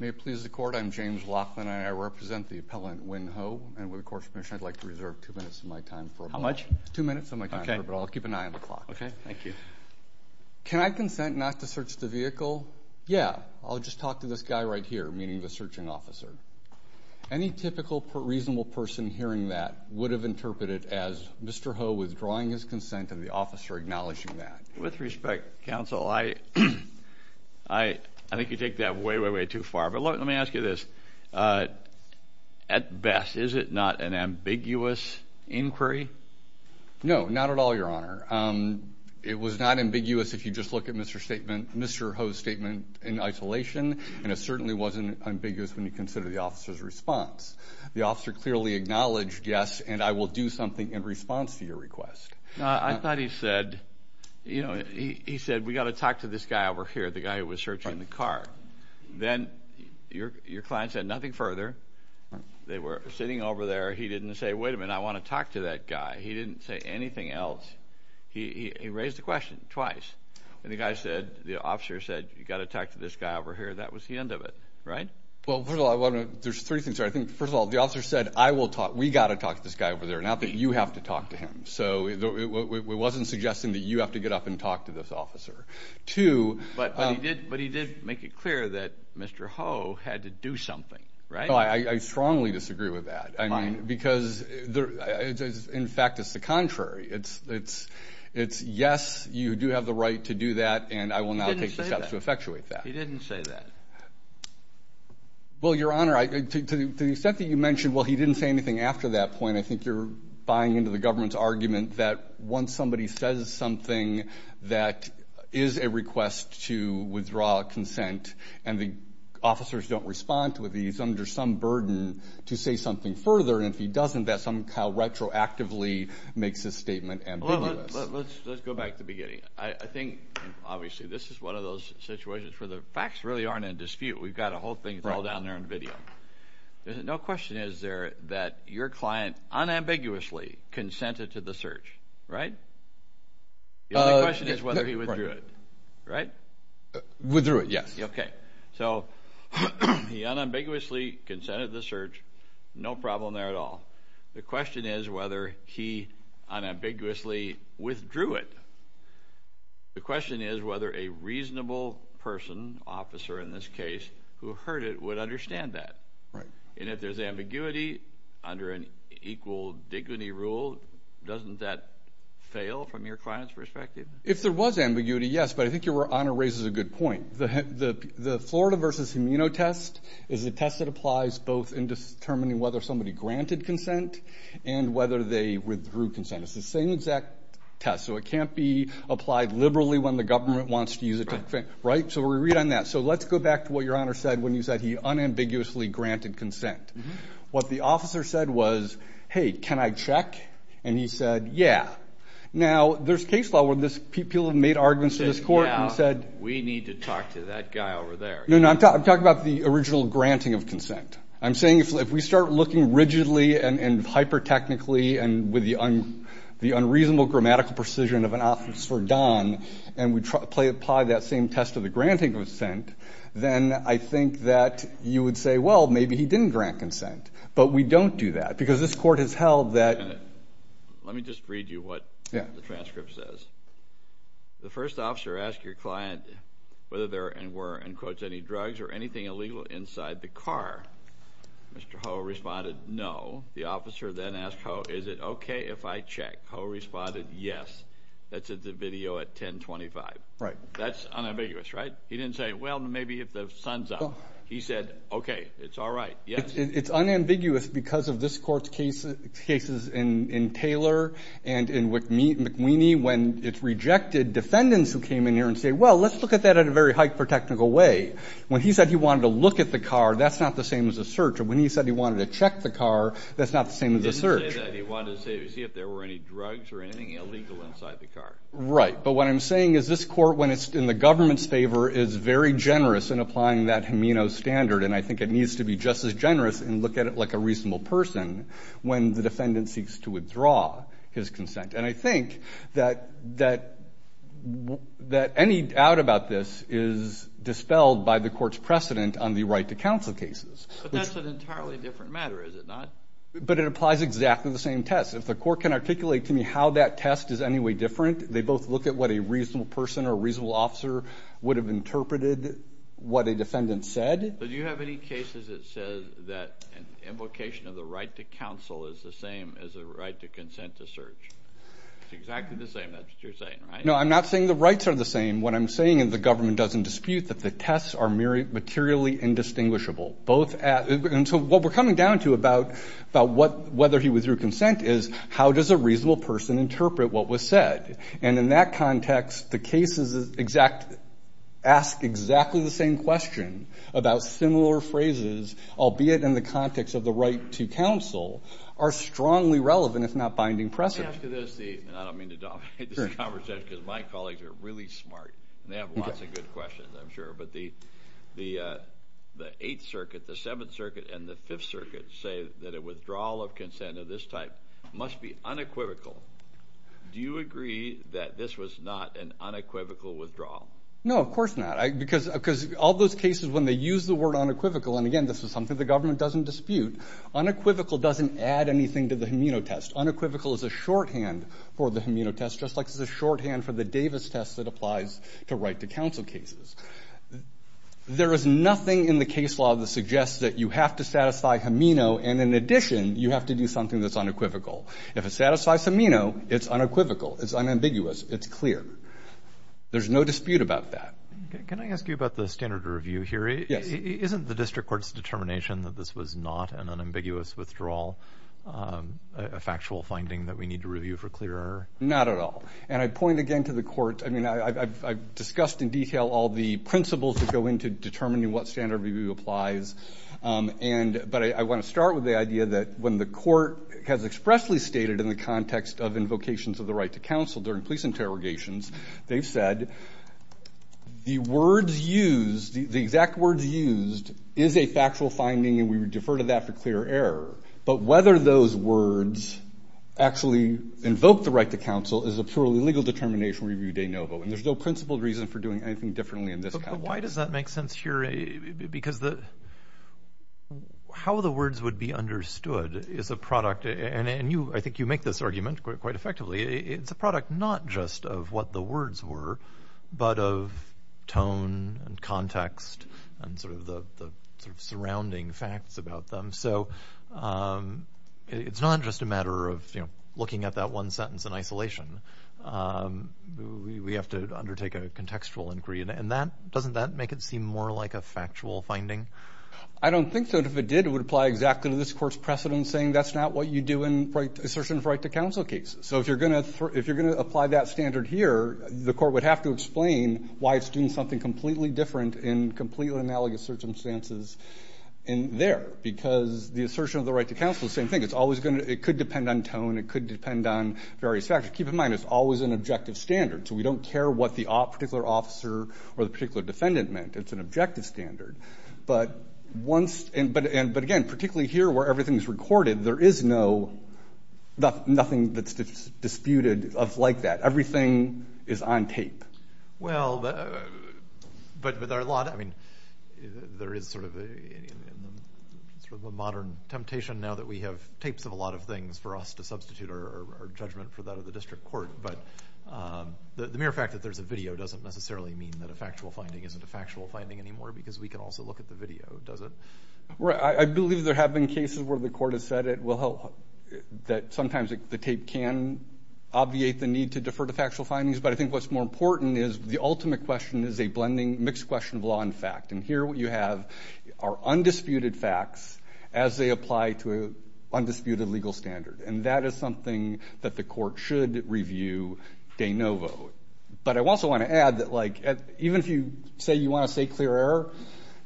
May it please the court I'm James Laughlin and I represent the appellant Nguyen Ho and with the court's permission I'd like to reserve two minutes of my time. How much? Two minutes of my time, but I'll keep an eye on the clock. Okay, thank you. Can I consent not to search the vehicle? Yeah, I'll just talk to this guy right here, meaning the searching officer. Any typical reasonable person hearing that would have interpreted as Mr. Ho withdrawing his consent and the officer acknowledging that. With respect, counsel, I think you take that way, way, way too far, but let me ask you this. At best, is it not an ambiguous inquiry? No, not at all, your honor. It was not ambiguous if you just look at Mr. statement, Mr. Ho's statement in isolation, and it certainly wasn't ambiguous when you consider the officer's response. The officer clearly acknowledged, yes, and I will do something in response to your request. I thought he said, you know, he said, we got to talk to this guy over here, the guy who was searching the car. Then your client said nothing further. They were sitting over there. He didn't say, wait a minute, I want to talk to that guy. He didn't say anything else. He raised the question twice, and the guy said, the officer said, you got to talk to this guy over here. That was the end of it, right? Well, first of all, there's three things here. I think, first of all, the officer said, I will talk, we got to talk to this guy over there, not that you have to talk to him. So it wasn't suggesting that you have to get up and talk to this officer. But he did make it clear that Mr. Ho had to do something, right? I strongly disagree with that, because, in fact, it's the contrary. It's yes, you do have the right to do that, and I will now take the steps to effectuate that. He didn't say that. Well, your honor, to the extent that you mentioned, well, he didn't say anything after that point, I think you're buying into the government's argument that once somebody says something that is a request to withdraw consent, and the officers don't respond to it, he's under some burden to say something further, and if he doesn't, that somehow retroactively makes this statement ambiguous. Let's go back to the beginning. I think, obviously, this is one of those situations where the facts really aren't in dispute. We've got a whole thing, it's all down there in video. No question is there that your client unambiguously consented to the search, right? The only question is whether he withdrew it, right? Withdrew it, yes. Okay, so he unambiguously consented to the search, no problem there at all. The question is whether he unambiguously withdrew it. The question is whether a reasonable person, officer in this case, who heard it would understand that. Right. And if there's ambiguity, under an equal dignity rule, doesn't that fail from your client's perspective? If there was ambiguity, yes, but I think your Honor raises a good point. The Florida versus immunotest is a test that applies both in determining whether somebody granted consent and whether they withdrew consent. It's the same exact test, so it can't be applied liberally when the government wants to use it, right? So we read on that. So let's go back to what your Honor said when you said he unambiguously granted consent. What the officer said was, hey, can I check? And he said, yeah. Now, there's case law where people have made arguments in this court and said, we need to talk to that guy over there. No, no, I'm talking about the original granting of consent. I'm saying if we start looking rigidly and hyper-technically and with the unreasonable grammatical precision of an officer, Don, and we apply that same test of the granting of consent, then I think that you would say, well, maybe he didn't grant consent. But we don't do that, because this court has held that... Let me just read you what the transcript says. The first officer asked your client whether there were, and quotes, any drugs or anything illegal inside the car. Mr. Ho responded, no. The officer then asked Ho, is it okay if I check? Ho responded, yes. That's in the video at 1025. Right. That's unambiguous, right? He didn't say, well, maybe if the sun's up. He said, okay, it's all right. Yes. It's unambiguous because of this court's cases in Taylor and in McWheeney when it's rejected, defendants who came in here and say, well, let's look at that at a very hyper-technical way. When he said he wanted to look at the car, that's not the same as a search. Or when he said he wanted to check the car, that's not the same as a search. He didn't say that. He wanted to see if there were any drugs or anything illegal inside the car. Right. But what I'm saying is this court, when it's in the government's favor, is very generous in applying that HEMENO standard, and I think it needs to be just as generous and look at it like a reasonable person when the defendant seeks to withdraw his consent. And I think that any doubt about this is dispelled by the court's precedent on the right to counsel cases. But that's an exactly the same test. If the court can articulate to me how that test is any way different, they both look at what a reasonable person or reasonable officer would have interpreted what a defendant said. But do you have any cases that says that an invocation of the right to counsel is the same as a right to consent to search? It's exactly the same. That's what you're saying, right? No, I'm not saying the rights are the same. What I'm saying is the government doesn't dispute that the tests are materially indistinguishable. And so what we're coming down to about whether he withdrew consent is, how does a reasonable person interpret what was said? And in that context, the cases ask exactly the same question about similar phrases, albeit in the context of the right to counsel, are strongly relevant, if not binding precedent. Let me ask you this, and I don't mean to dominate this conversation, because my colleagues are really smart. They have lots of good questions, I'm sure. But the 8th Circuit, the 7th Circuit say that a withdrawal of consent of this type must be unequivocal. Do you agree that this was not an unequivocal withdrawal? No, of course not. Because all those cases, when they use the word unequivocal, and again, this is something the government doesn't dispute, unequivocal doesn't add anything to the immunotest. Unequivocal is a shorthand for the immunotest, just like it's a shorthand for the Davis test that applies to right to counsel cases. There is nothing in the case law that suggests that you have to satisfy Hameno, and in addition, you have to do something that's unequivocal. If it satisfies Hameno, it's unequivocal, it's unambiguous, it's clear. There's no dispute about that. Can I ask you about the standard review here? Yes. Isn't the district court's determination that this was not an unambiguous withdrawal a factual finding that we need to review for clear error? Not at all. And I point again to the court. I discussed in detail all the principles that go into determining what standard review applies, but I want to start with the idea that when the court has expressly stated in the context of invocations of the right to counsel during police interrogations, they've said the words used, the exact words used, is a factual finding and we would defer to that for clear error. But whether those words actually invoke the right to counsel is a purely legal determination review de novo, and there's no principled reason for doing anything differently in this context. But why does that make sense here? Because how the words would be understood is a product, and I think you make this argument quite effectively, it's a product not just of what the words were, but of tone and context and sort of the surrounding facts about them. So it's not just a we have to undertake a contextual inquiry. And that, doesn't that make it seem more like a factual finding? I don't think so. If it did, it would apply exactly to this Court's precedent saying that's not what you do in assertion of right to counsel cases. So if you're going to apply that standard here, the court would have to explain why it's doing something completely different in completely analogous circumstances in there, because the assertion of the right to counsel is the same thing. It's always going to, it could depend on tone, it could depend on various factors. Keep in mind it's always an objective standard, so we don't care what the particular officer or the particular defendant meant. It's an objective standard. But once, and but again, particularly here where everything's recorded, there is no, nothing that's disputed of like that. Everything is on tape. Well, but there are a lot, I mean, there is sort of a modern temptation now that we have tapes of a lot of things for us to substitute our judgment for that of the district court, but the mere fact that there's a video doesn't necessarily mean that a factual finding isn't a factual finding anymore, because we can also look at the video, does it? Right, I believe there have been cases where the court has said it will help, that sometimes the tape can obviate the need to defer to factual findings, but I think what's more important is the ultimate question is a blending, mixed question of law and fact. And here what you have are undisputed facts as they apply to an undisputed legal standard, and that is something that the court should review de novo. But I also want to add that like, even if you say you want to say clear error,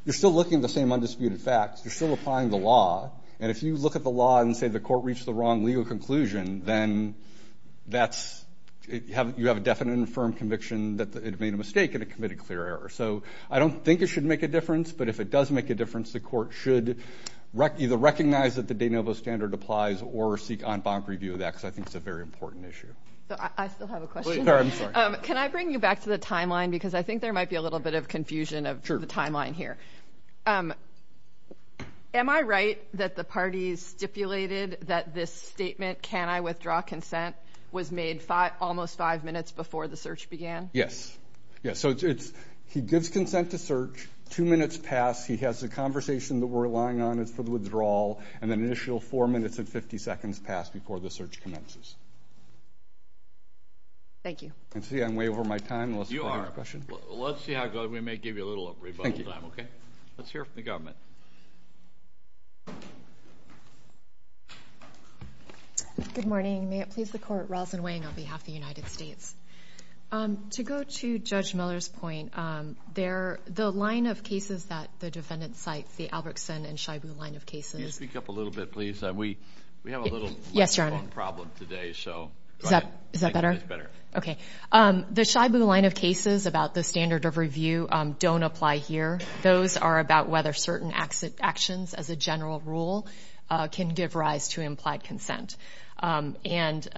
you're still looking at the same undisputed facts, you're still applying the law, and if you look at the law and say the court reached the wrong legal conclusion, then that's, you have a definite and firm conviction that it made a mistake and it committed clear error. So I don't think it should make a difference, but if it does make a difference, the court should either recognize that the de novo standard applies or seek on-bond review of that, because I think it's a very important issue. Can I bring you back to the timeline, because I think there might be a little bit of confusion of the timeline here. Am I right that the parties stipulated that this statement, can I withdraw consent, was made almost five minutes before the search began? Yes, yes. So it's, he gives consent to search, two minutes pass, he has the conversation that we're relying on is for the withdrawal, and then initial four minutes and 50 seconds pass before the search commences. Thank you. I see I'm way over my time. You are. Let's see how good, we may give you a little rebuttal time, okay? Let's hear from the government. Good morning, may it please the court, Roslyn Wang on behalf of the United States. To go to Judge Miller's point, there, the line of cases that the line of cases. Can you speak up a little bit, please? We have a little microphone problem today, so. Yes, your honor. Is that better? It's better. Okay. The SHI-BOO line of cases about the standard of review don't apply here. Those are about whether certain actions as a general rule can give rise to implied consent. And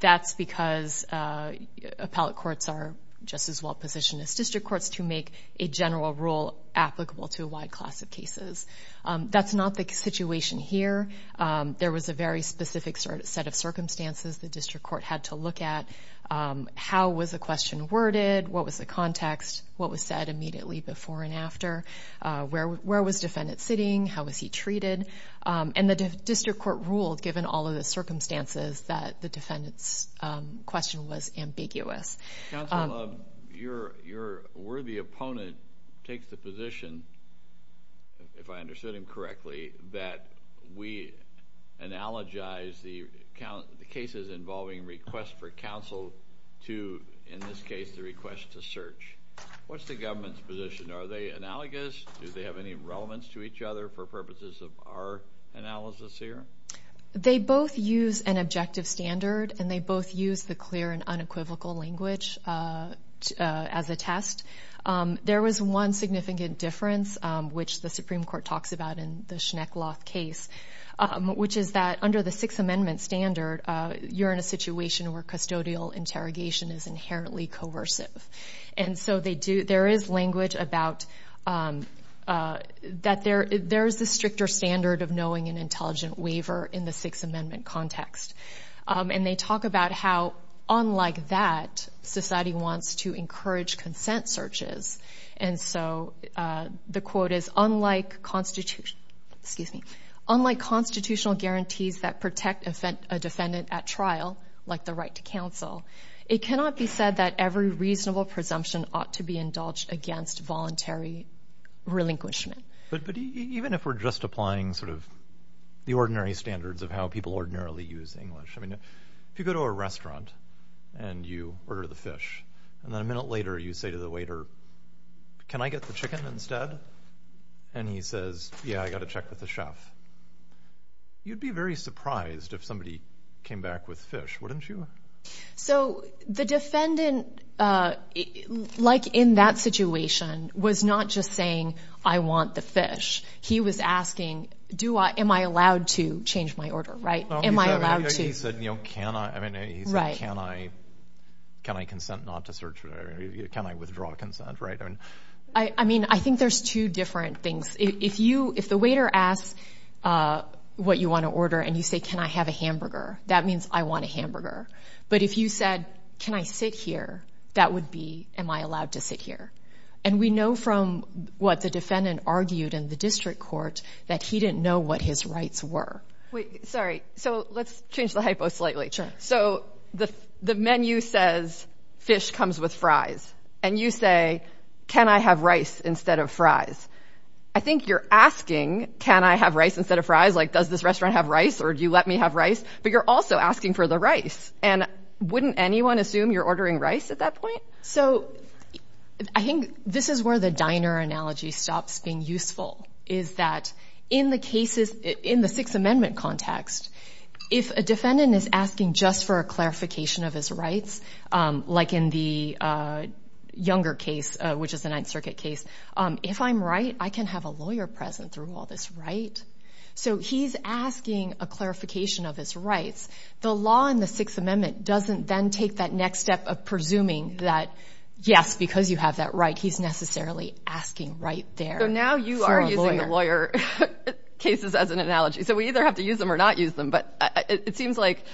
that's because appellate courts are just as well-positioned as district courts to make a general rule applicable to a wide class of cases. That's not the situation here. There was a very specific set of circumstances the district court had to look at. How was a question worded? What was the context? What was said immediately before and after? Where was defendant sitting? How was he treated? And the district court ruled, given all of the circumstances, that the defendant's question was ambiguous. Counsel, your worthy opponent takes the position, if I understood him correctly, that we analogize the cases involving requests for counsel to, in this case, the request to search. What's the government's position? Are they analogous? Do they have any relevance to each other for purposes of our analysis here? They both use an objective standard, and they both use the clear and unequivocal language as a test. There was one significant difference, which the Supreme Court talks about in the Schneckloth case, which is that under the Sixth Amendment standard, you're in a situation where custodial interrogation is inherently coercive. And so they do, there is language about, that there, there's the stricter standard of knowing an intelligent waiver in the Sixth Society wants to encourage consent searches. And so the quote is, unlike constitutional, excuse me, unlike constitutional guarantees that protect a defendant at trial, like the right to counsel, it cannot be said that every reasonable presumption ought to be indulged against voluntary relinquishment. But even if we're just applying sort of the ordinary standards of how people ordinarily use English, I mean, if you go to a restaurant and you order the fish, and then a minute later, you say to the waiter, can I get the chicken instead? And he says, yeah, I gotta check with the chef. You'd be very surprised if somebody came back with fish, wouldn't you? So the defendant, like in that situation, was not just saying, I want the fish. He was asking, do I, am I allowed to change my order, right? Am I allowed to? He said, you know, can I, I mean, he said, can I, can I consent not to search, or can I withdraw consent, right? I mean, I think there's two different things. If you, if the waiter asks what you wanna order and you say, can I have a hamburger? That means I want a hamburger. But if you said, can I sit here? That would be, am I allowed to sit here? And we know from what the defendant argued in the district court that he didn't know what his rights were. Wait, sorry. So let's change the hypo slightly. Sure. So the menu says, fish comes with fries. And you say, can I have rice instead of fries? I think you're asking, can I have rice instead of fries? Like, does this restaurant have rice? Or do you let me have rice? But you're also asking for the rice. And wouldn't anyone assume you're ordering rice at that point? So I think this is where the diner analogy stops being useful, is that in the cases, in the Sixth Amendment context, if a defendant is asking just for a clarification of his rights, like in the Younger case, which is the Ninth Circuit case, if I'm right, I can have a lawyer present through all this, right? So he's asking a clarification of his rights. The law in the next step of presuming that, yes, because you have that right, he's necessarily asking right there for a lawyer. So now you are using the lawyer cases as an analogy. So we either have to use them or not use them. But it seems like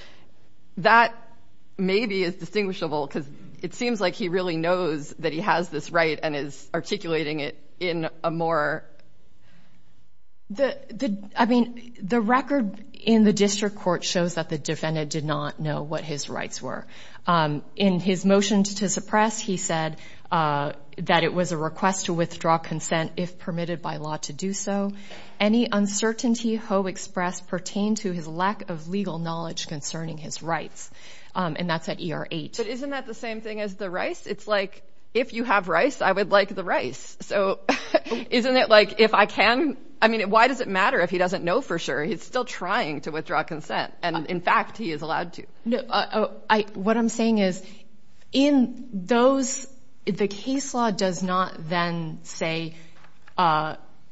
that maybe is distinguishable, because it seems like he really knows that he has this right and is articulating it in a more... I mean, the record in the district court shows that the defendant did not know what his rights were. In his motion to suppress, he said that it was a request to withdraw consent if permitted by law to do so. Any uncertainty Ho expressed pertained to his lack of legal knowledge concerning his rights. And that's at ER 8. But isn't that the same thing as the rice? It's like, if you have rice, I would like the rice. So isn't it like, if I can... Why does it matter if he doesn't know for sure? He's still trying to withdraw consent. And in fact, he is allowed to. What I'm saying is, in those... The case law does not then say,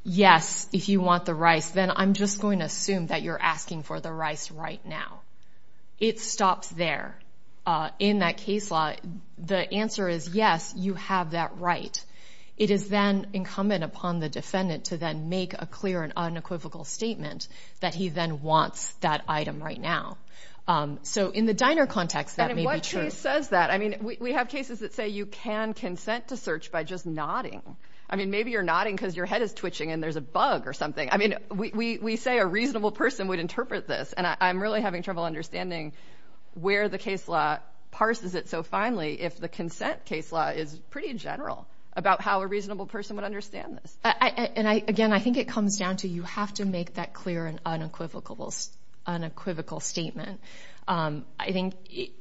yes, if you want the rice, then I'm just going to assume that you're asking for the rice right now. It stops there. In that case law, the answer is, yes, you have that right. It is then incumbent upon the defendant to then make a clear and unequivocal claim that he then wants that item right now. So in the diner context, that may be true. But in what case says that? We have cases that say you can consent to search by just nodding. Maybe you're nodding because your head is twitching and there's a bug or something. We say a reasonable person would interpret this, and I'm really having trouble understanding where the case law parses it so finely, if the consent case law is pretty general about how a reasonable person would understand this. And again, I think it comes down to you have to make that clear and unequivocal statement. I think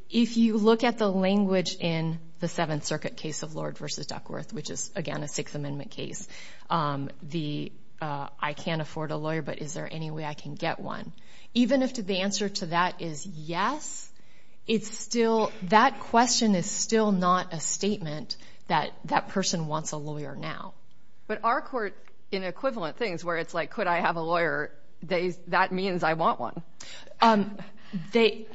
if you look at the language in the Seventh Circuit case of Lord versus Duckworth, which is, again, a Sixth Amendment case, I can't afford a lawyer, but is there any way I can get one? Even if the answer to that is yes, that question is still not a statement that that person wants a lawyer now. But our court, in equivalent things where it's like, could I have a lawyer? That means I want one.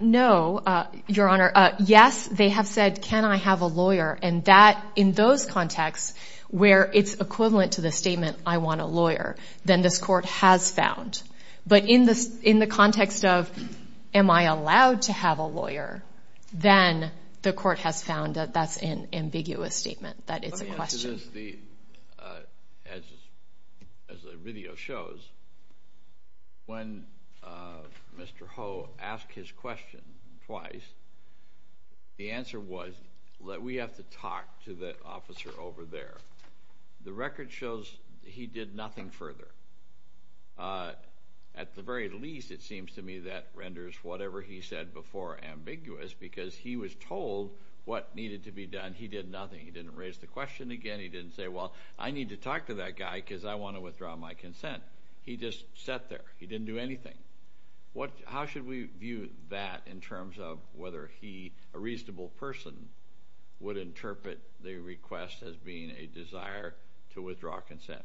No, Your Honor. Yes, they have said, can I have a lawyer? And that, in those contexts where it's equivalent to the statement, I want a lawyer, then this court has found. But in the context of, am I allowed to have a lawyer? Then the court has found that that's an ambiguous statement, that it's a question. But the answer is, as the video shows, when Mr. Ho asked his question twice, the answer was that we have to talk to the officer over there. The record shows he did nothing further. At the very least, it seems to me that renders whatever he said before ambiguous, because he was told what needed to be done. He did nothing. He didn't raise the question again. He didn't say, well, I need to talk to that guy because I wanna withdraw my consent. He just sat there. He didn't do anything. How should we view that in terms of whether he, a reasonable person, would interpret the request as being a desire to withdraw consent?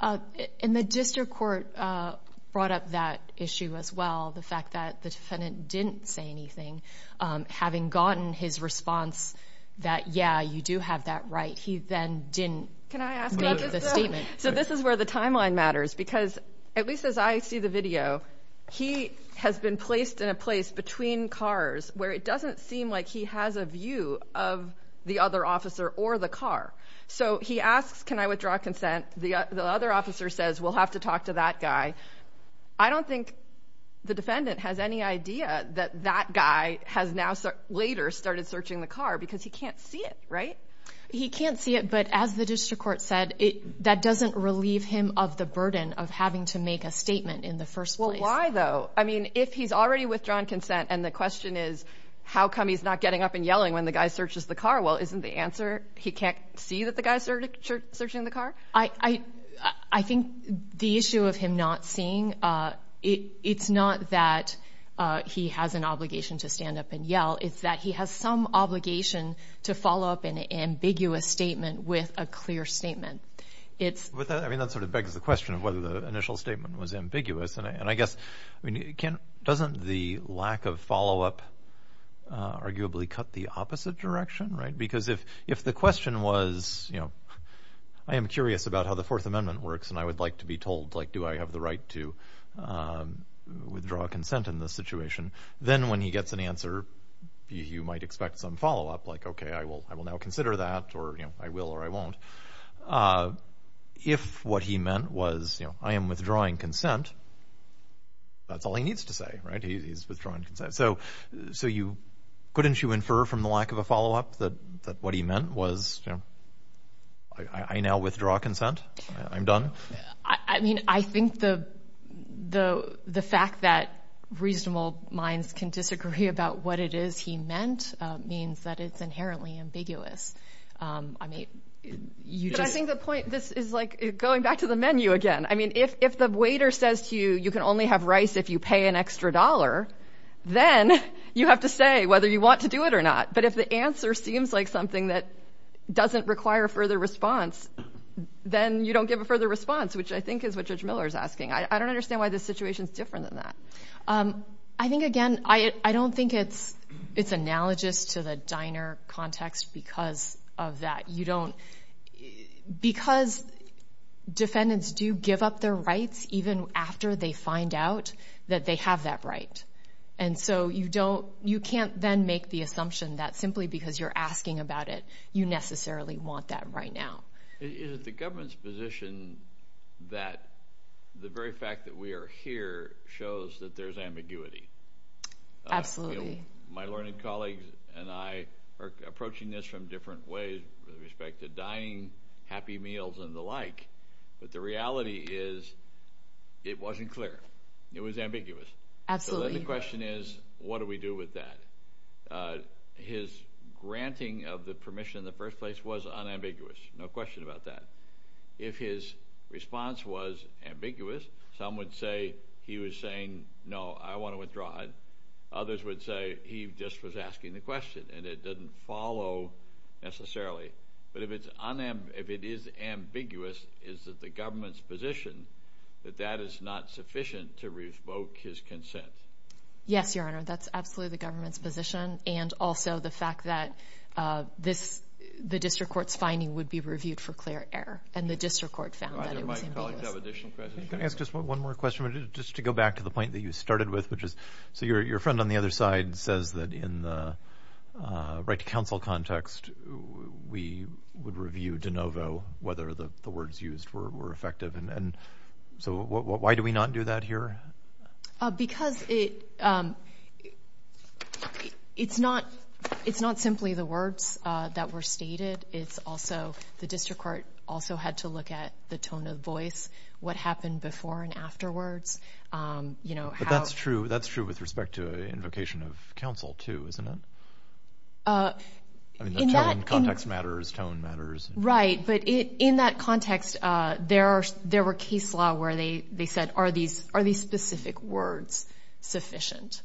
And the district court brought up that issue as well. The fact that the defendant didn't say anything, having gotten his response that, yeah, you do have that right, he then didn't make the statement. Can I ask about this though? So this is where the timeline matters, because at least as I see the video, he has been placed in a place between cars where it doesn't seem like he has a view of the other officer or the car. So he asks, can I withdraw consent? The other officer says, we'll have to talk to that guy. I don't think the defendant has any idea that that guy has now later started searching the car because he can't see it, right? He can't see it, but as the district court said, that doesn't relieve him of the burden of having to make a statement in the first place. Well, why though? If he's already withdrawn consent and the question is, how come he's not getting up and yelling when the guy searches the car? Well, isn't the answer he can't see that the guy's searching the car? I think the issue of him not seeing, it's not that he has an obligation to stand up and yell, it's that he has some obligation to follow up an ambiguous statement with a clear statement. I mean, that sort of begs the question of whether the initial statement was ambiguous. And I guess, doesn't the lack of follow up arguably cut the opposite direction, right? Because if the question was, I am curious about how the Fourth Amendment works and I would like to be told, do I have the right to withdraw consent in this situation? Then when he gets an answer, you might expect some follow up, like, okay, I will now consider that or I will or I won't. If what he meant was, I am withdrawing consent, that's all he needs to say, right? He's withdrawing consent. So couldn't you infer from the lack of a follow up that what he meant was, I now withdraw consent, I'm done? I mean, I think the fact that reasonable minds can disagree about what it is he meant means that it's inherently ambiguous. I mean, you just... But I think the point, this is like going back to the menu again. I mean, if the waiter says to you, you can only have rice if you pay an extra dollar, then you have to say whether you want to do it or not. But if the answer seems like something that doesn't require further response, then you don't give a further response, which I think is what Judge Miller is asking. I don't understand why this situation is different than that. I think, again, I don't think it's analogous to the diner context because of that. You don't... Because defendants do give up their rights even after they find out that they have that right. And so you can't then make the assumption that simply because you're asking about it, you necessarily want that right now. Is it the government's position that the very fact that we are here shows that there's ambiguity? Absolutely. My learned colleagues and I are approaching this from different ways with respect to dining, happy meals, and the like, but the reality is it wasn't clear. It was ambiguous. Absolutely. So then the question is, what do we do with that? His granting of the permission in the first place was unambiguous, no question about that. If his response was ambiguous, some would say he was saying, no, I wanna withdraw it. Others would say he just was asking the question and it doesn't follow necessarily. But if it's... If it is ambiguous, is it the government's position that that is not sufficient to revoke his consent? Yes, Your Honor, that's absolutely the government's and also the fact that the district court's finding would be reviewed for clear error, and the district court found that it was ambiguous. Can I ask just one more question, but just to go back to the point that you started with, which is... So your friend on the other side says that in the right to counsel context, we would review de novo whether the words used were effective. And so why do we not do that here? Because it's not simply the words that were stated, it's also... The district court also had to look at the tone of voice, what happened before and afterwards. But that's true, that's true with respect to invocation of counsel too, isn't it? In that... I mean, context matters, tone matters. Right, but in that context, there were case law where they said, are these specific words sufficient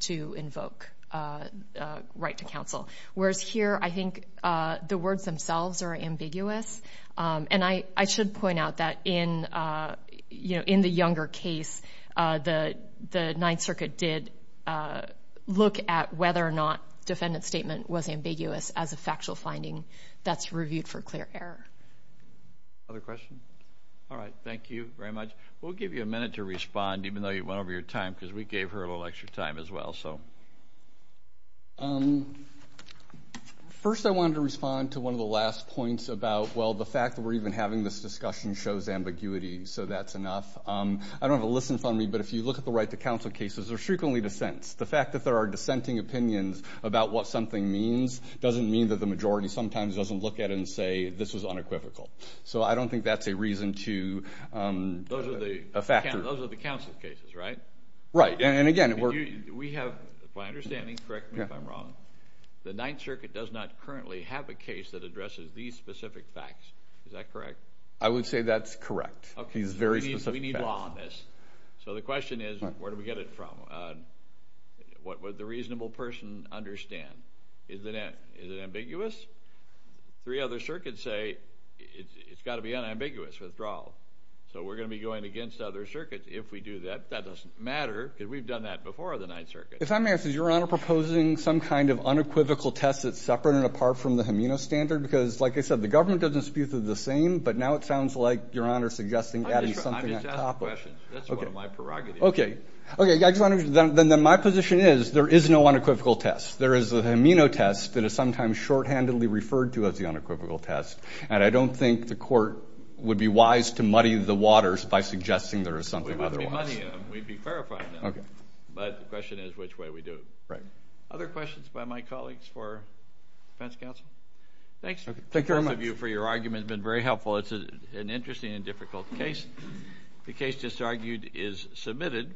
to invoke right to counsel? Whereas here, I think the words themselves are ambiguous, and I should point out that in the Younger case, the Ninth Circuit did look at whether or not defendant's statement was ambiguous as a factual finding that's reviewed for clear error. Other questions? Alright, thank you very much. We'll give you a minute to respond, even though you went over your time, because we gave her a little extra time as well. First, I wanted to respond to one of the last points about, well, the fact that we're even having this discussion shows ambiguity, so that's enough. I don't have a listen fund me, but if you look at the right to counsel cases, they're frequently dissents. The fact that there are dissenting opinions about what something means doesn't mean that the majority sometimes doesn't look at it and say, this was unequivocal. So I don't think that's a reason to... Those are the counsel cases, right? Right. And again, we're... We have... My understanding, correct me if I'm wrong, the Ninth Circuit does not currently have a case that addresses these specific facts. Is that correct? I would say that's correct. These very specific facts. Okay, we need law on this. So the question is, where do we get it from? What would the reasonable person understand? Is it ambiguous? Three other circuits say it's gotta be unambiguous, withdrawal. So we're gonna be going against other circuits if we do that. That doesn't matter, because we've done that before the Ninth Circuit. If I may ask, is Your Honor proposing some kind of unequivocal test that's separate and apart from the amino standard? Because like I said, the government doesn't spew through the same, but now it sounds like Your Honor is suggesting adding something on top of it. I'm just asking a question. That's one of my prerogatives. Okay. Okay. Then my position is, there is no unequivocal test. There is an amino test that is sometimes shorthandedly referred to as the unequivocal test, and I don't think the court would be wise to muddy the waters by suggesting there is something otherwise. We'd be muddying them. We'd be clarifying them. Okay. But the question is, which way we do it. Right. Other questions by my colleagues for defense counsel? Thanks. Thank you very much. Both of you for your argument have been very helpful. It's an interesting and difficult case. The case just argued is submitted.